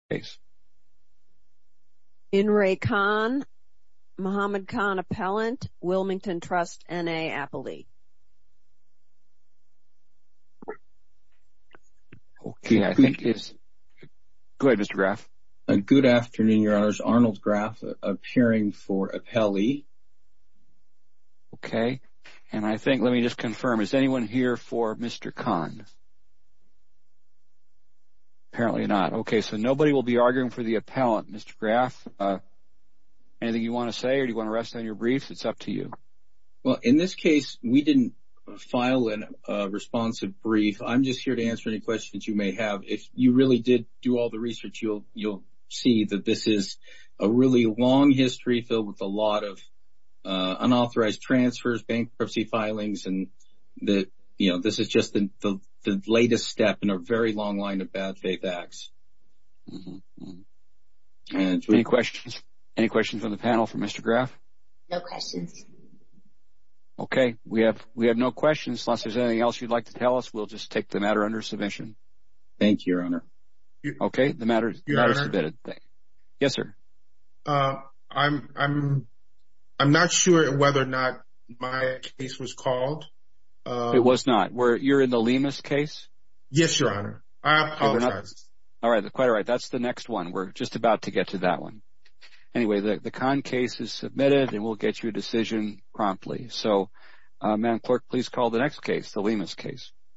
Mohammed Khan appellant, Wilmington Trust, N.A. Appley. Okay, I think it's... Go ahead, Mr. Graff. Good afternoon, Your Honors. Arnold Graff, appearing for appellee. Okay, and I think, let me just confirm, is anyone here for Mr. Khan? Apparently not. Okay, so nobody will be arguing for the appellant. Mr. Graff, anything you want to say or do you want to rest on your briefs? It's up to you. Well, in this case, we didn't file a responsive brief. I'm just here to answer any questions you may have. If you really did do all the research, you'll see that this is a really long history filled with a lot of unauthorized transfers, bankruptcy filings, and this is just the latest step in a very long line of bad faith acts. Any questions? Any questions on the panel for Mr. Graff? No questions. Okay, we have no questions. Unless there's anything else you'd like to tell us, we'll just take the matter under submission. Thank you, Your Honor. Okay, the matter is submitted. Yes, sir. I'm not sure whether or not my case was called. It was not. You're in the Lemus case? Yes, Your Honor. I apologize. All right, quite all right. That's the next one. We're just about to get to that one. Anyway, the Khan case is submitted and we'll get you a decision promptly. So, Madam Clerk, please call the next case, the Lemus case.